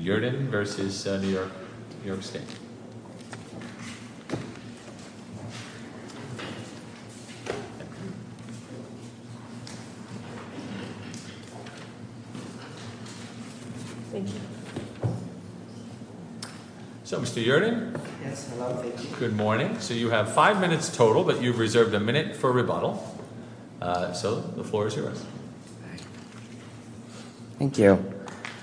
v. Yerdon v. New York State. So Mr. Yerdon? Yes, hello, thank you. Good morning. So you have five minutes total, but you've reserved a minute for rebuttal. So the floor is yours. Thank you.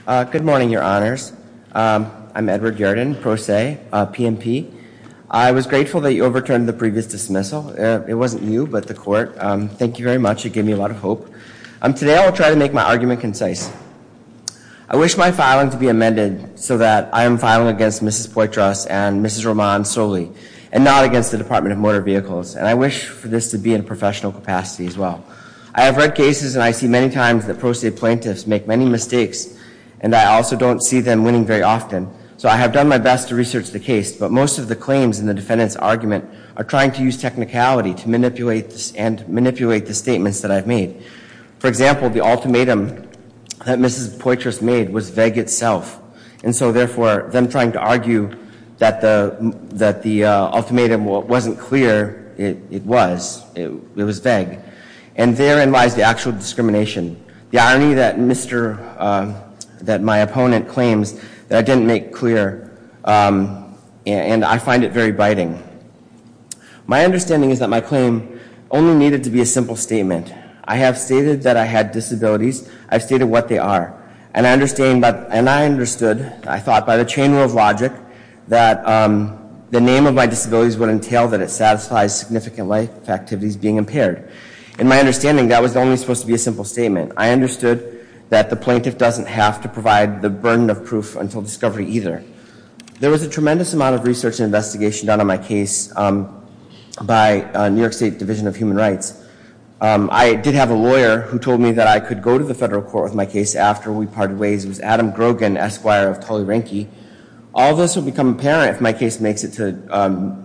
Good morning, your honors. I'm Edward Yerdon, Pro Se, PMP. I was grateful that you overturned the previous dismissal. It wasn't you, but the court. Thank you very much. It gave me a lot of hope. Today, I will try to make my argument concise. I wish my filing to be amended so that I am filing against Mrs. Poitras and Mrs. Roman solely and not against the Department of Motor Vehicles, and I wish for this to be in a professional capacity as well. I have read cases, and I see many times that Pro Se plaintiffs make many mistakes, and I also don't see them winning very often. So I have done my best to research the case, but most of the claims in the defendant's argument are trying to use technicality to manipulate the statements that I've made. For example, the ultimatum that Mrs. Poitras made was vague itself, and so therefore, them trying to argue that the ultimatum wasn't clear, it was, it was vague. And therein lies the actual discrimination, the irony that my opponent claims that I didn't make clear, and I find it very biting. My understanding is that my claim only needed to be a simple statement. I have stated that I had disabilities. I've stated what they are. And I understand, and I understood, I thought by the chain rule of logic, that the name of my disabilities would entail that it satisfies significant life activities being impaired. In my understanding, that was only supposed to be a simple statement. I understood that the plaintiff doesn't have to provide the burden of proof until discovery either. There was a tremendous amount of research and investigation done on my case by New York State Division of Human Rights. I did have a lawyer who told me that I could go to the federal court with my case after we parted ways. It was Adam Grogan, Esquire of Tully-Ranke. All of this would become apparent if my case makes it to,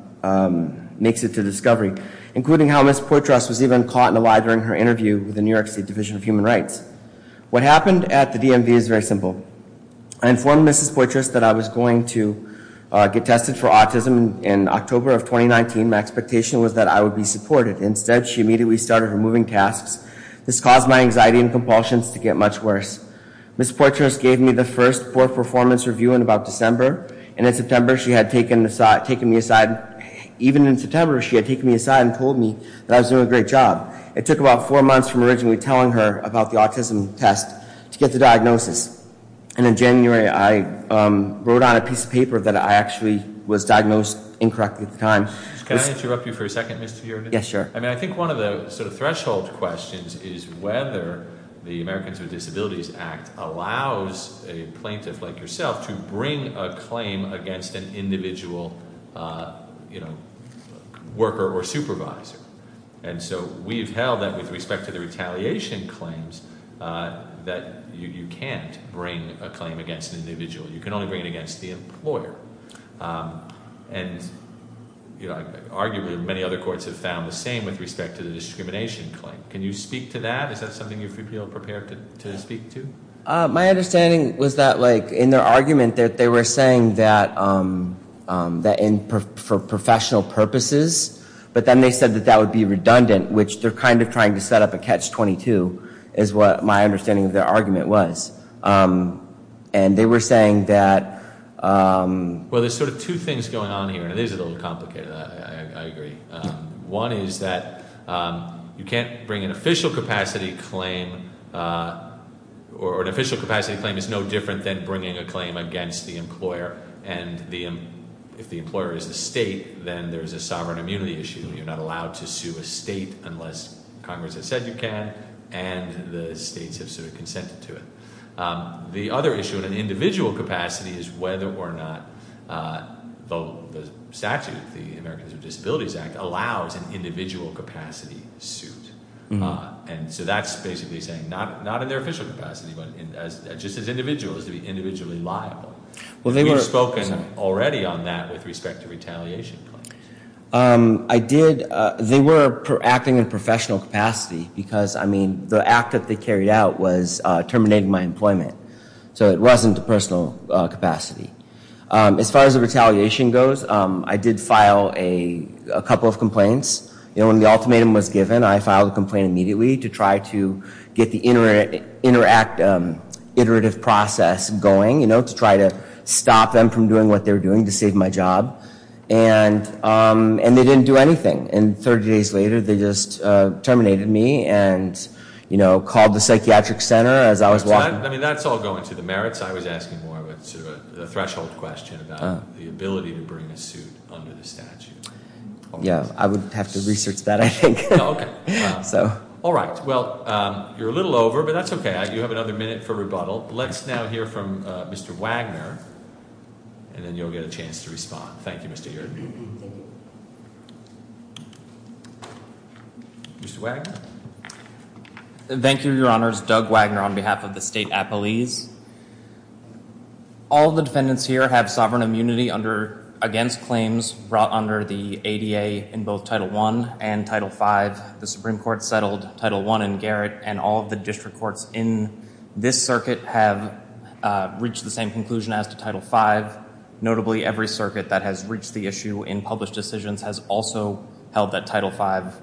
makes it to discovery, including how Mrs. Poitras was even caught in a lie during her interview with the New York State Division of Human Rights. What happened at the DMV is very simple. I informed Mrs. Poitras that I was going to get tested for autism in October of 2019. My expectation was that I would be supported. Instead, she immediately started her moving tasks. This caused my anxiety and compulsions to get much worse. Mrs. Poitras gave me the first poor performance review in about December, and in September she had taken me aside. Even in September, she had taken me aside and told me that I was doing a great job. It took about four months from originally telling her about the autism test to get the diagnosis. And in January, I wrote on a piece of paper that I actually was diagnosed incorrectly at the time. Can I interrupt you for a second, Mr. Yergin? Yes, sure. I mean, I think one of the sort of threshold questions is whether the Americans with Disabilities Act allows a plaintiff like yourself to bring a claim against an individual, you know, worker or supervisor. And so we've held that with respect to the retaliation claims, that you can't bring a claim against an individual. You can only bring it against the employer. And, you know, arguably many other courts have found the same with respect to the discrimination claim. Can you speak to that? Is that something you feel prepared to speak to? My understanding was that, like, in their argument that they were saying that for professional purposes, but then they said that that would be redundant, which they're kind of trying to set up a catch-22, is what my understanding of their argument was. And they were saying that- Well, there's sort of two things going on here, and it is a little complicated, I agree. One is that you can't bring an official capacity claim, or an official capacity claim is no different than bringing a claim against the employer. And if the employer is the state, then there's a sovereign immunity issue, you're not allowed to sue a state unless Congress has said you can, and the states have sort of consented to it. The other issue in an individual capacity is whether or not the statute, the Americans with Disabilities Act, allows an individual capacity suit. And so that's basically saying not in their official capacity, but just as individuals, to be individually liable. Well, they were- We've spoken already on that with respect to retaliation claims. I did- they were acting in professional capacity, because, I mean, the act that they carried out was terminating my employment. So it wasn't a personal capacity. As far as the retaliation goes, I did file a couple of complaints. You know, when the ultimatum was given, I filed a complaint immediately to try to get the interact- iterative process going, you know, to try to stop them from doing what they were doing to save my job, and they didn't do anything. And 30 days later, they just terminated me and, you know, called the psychiatric center as I was walking- I mean, that's all going to the merits. I was asking more of a sort of a threshold question about the ability to bring a suit under the statute. Yeah. I would have to research that, I think. Okay. So- All right. Well, you're a little over, but that's okay. You have another minute for rebuttal. Let's now hear from Mr. Wagner, and then you'll get a chance to respond. Thank you, Mr. Heard. Thank you. Mr. Wagner? Thank you, Your Honors. Doug Wagner on behalf of the State Appellees. All the defendants here have sovereign immunity under- against claims brought under the ADA in both Title I and Title V. The Supreme Court settled Title I in Garrett, and all of the district courts in this circuit have reached the same conclusion as to Title V. Notably, every circuit that has reached the issue in published decisions has also held that Title V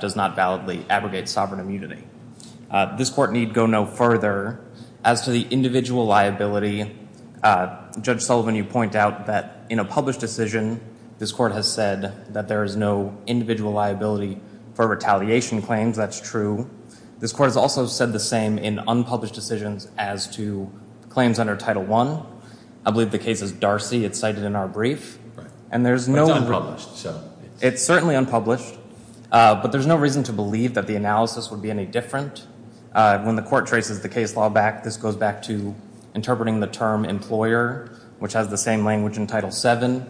does not validly abrogate sovereign immunity. This Court need go no further. As to the individual liability, Judge Sullivan, you point out that in a published decision, this Court has said that there is no individual liability for retaliation claims. That's true. This Court has also said the same in unpublished decisions as to claims under Title I. I believe the case is Darcy. It's cited in our brief. And there's no- It's unpublished, so- It's certainly unpublished. But there's no reason to believe that the analysis would be any different. When the Court traces the case law back, this goes back to interpreting the term employer, which has the same language in Title VII.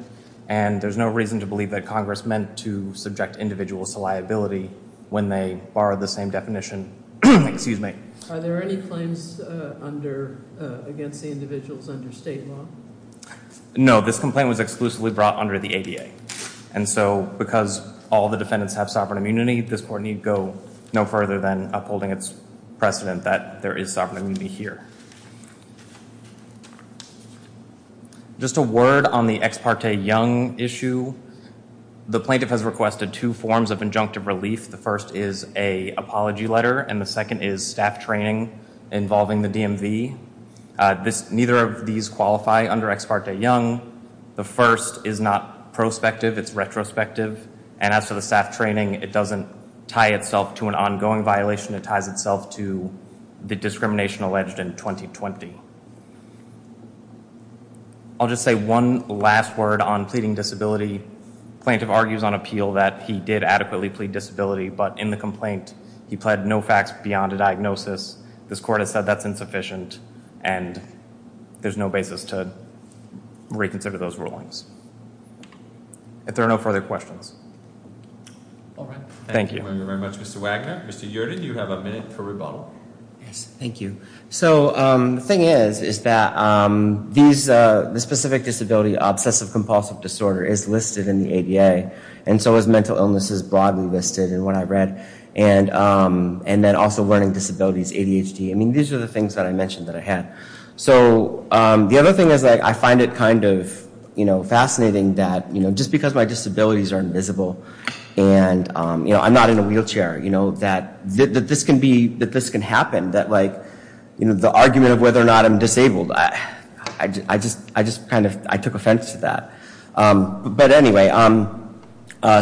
And there's no reason to believe that Congress meant to subject individuals to liability when they borrowed the same definition. Excuse me. Are there any claims against the individuals under state law? No. This complaint was exclusively brought under the ADA. And so, because all the defendants have sovereign immunity, this Court need go no further than upholding its precedent that there is sovereign immunity here. Just a word on the Ex Parte Young issue. The plaintiff has requested two forms of injunctive relief. The first is an apology letter. And the second is staff training involving the DMV. Neither of these qualify under Ex Parte Young. The first is not prospective. It's retrospective. And as for the staff training, it doesn't tie itself to an ongoing violation. It ties itself to the discrimination alleged in 2020. I'll just say one last word on pleading disability. The plaintiff argues on appeal that he did adequately plead disability. But in the complaint, he pled no facts beyond a diagnosis. This Court has said that's insufficient. And there's no basis to reconsider those rulings. If there are no further questions. All right. Thank you. Thank you very much, Mr. Wagner. Mr. Yerden, you have a minute for rebuttal. Yes. Thank you. So the thing is, is that the specific disability, obsessive compulsive disorder, is listed in the ADA. And so is mental illness is broadly listed in what I read. And then also learning disabilities, ADHD. I mean, these are the things that I mentioned that I had. So the other thing is I find it kind of fascinating that just because my disabilities are invisible and I'm not in a wheelchair, that this can happen. That the argument of whether or not I'm disabled, I just kind of took offense to that. But anyway,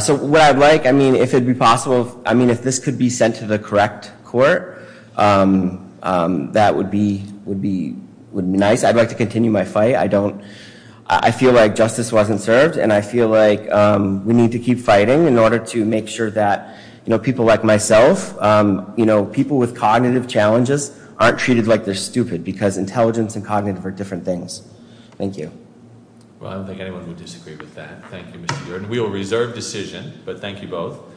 so what I'd like, I mean, if it'd be possible, I mean, if this could be sent to the correct court, that would be nice. I'd like to continue my fight. I feel like justice wasn't served. And I feel like we need to keep fighting in order to make sure that people like myself, people with cognitive challenges, aren't treated like they're stupid. Because intelligence and cognitive are different things. Thank you. Well, I don't think anyone would disagree with that. Thank you, Mr. Yerden. We will reserve decision, but thank you both.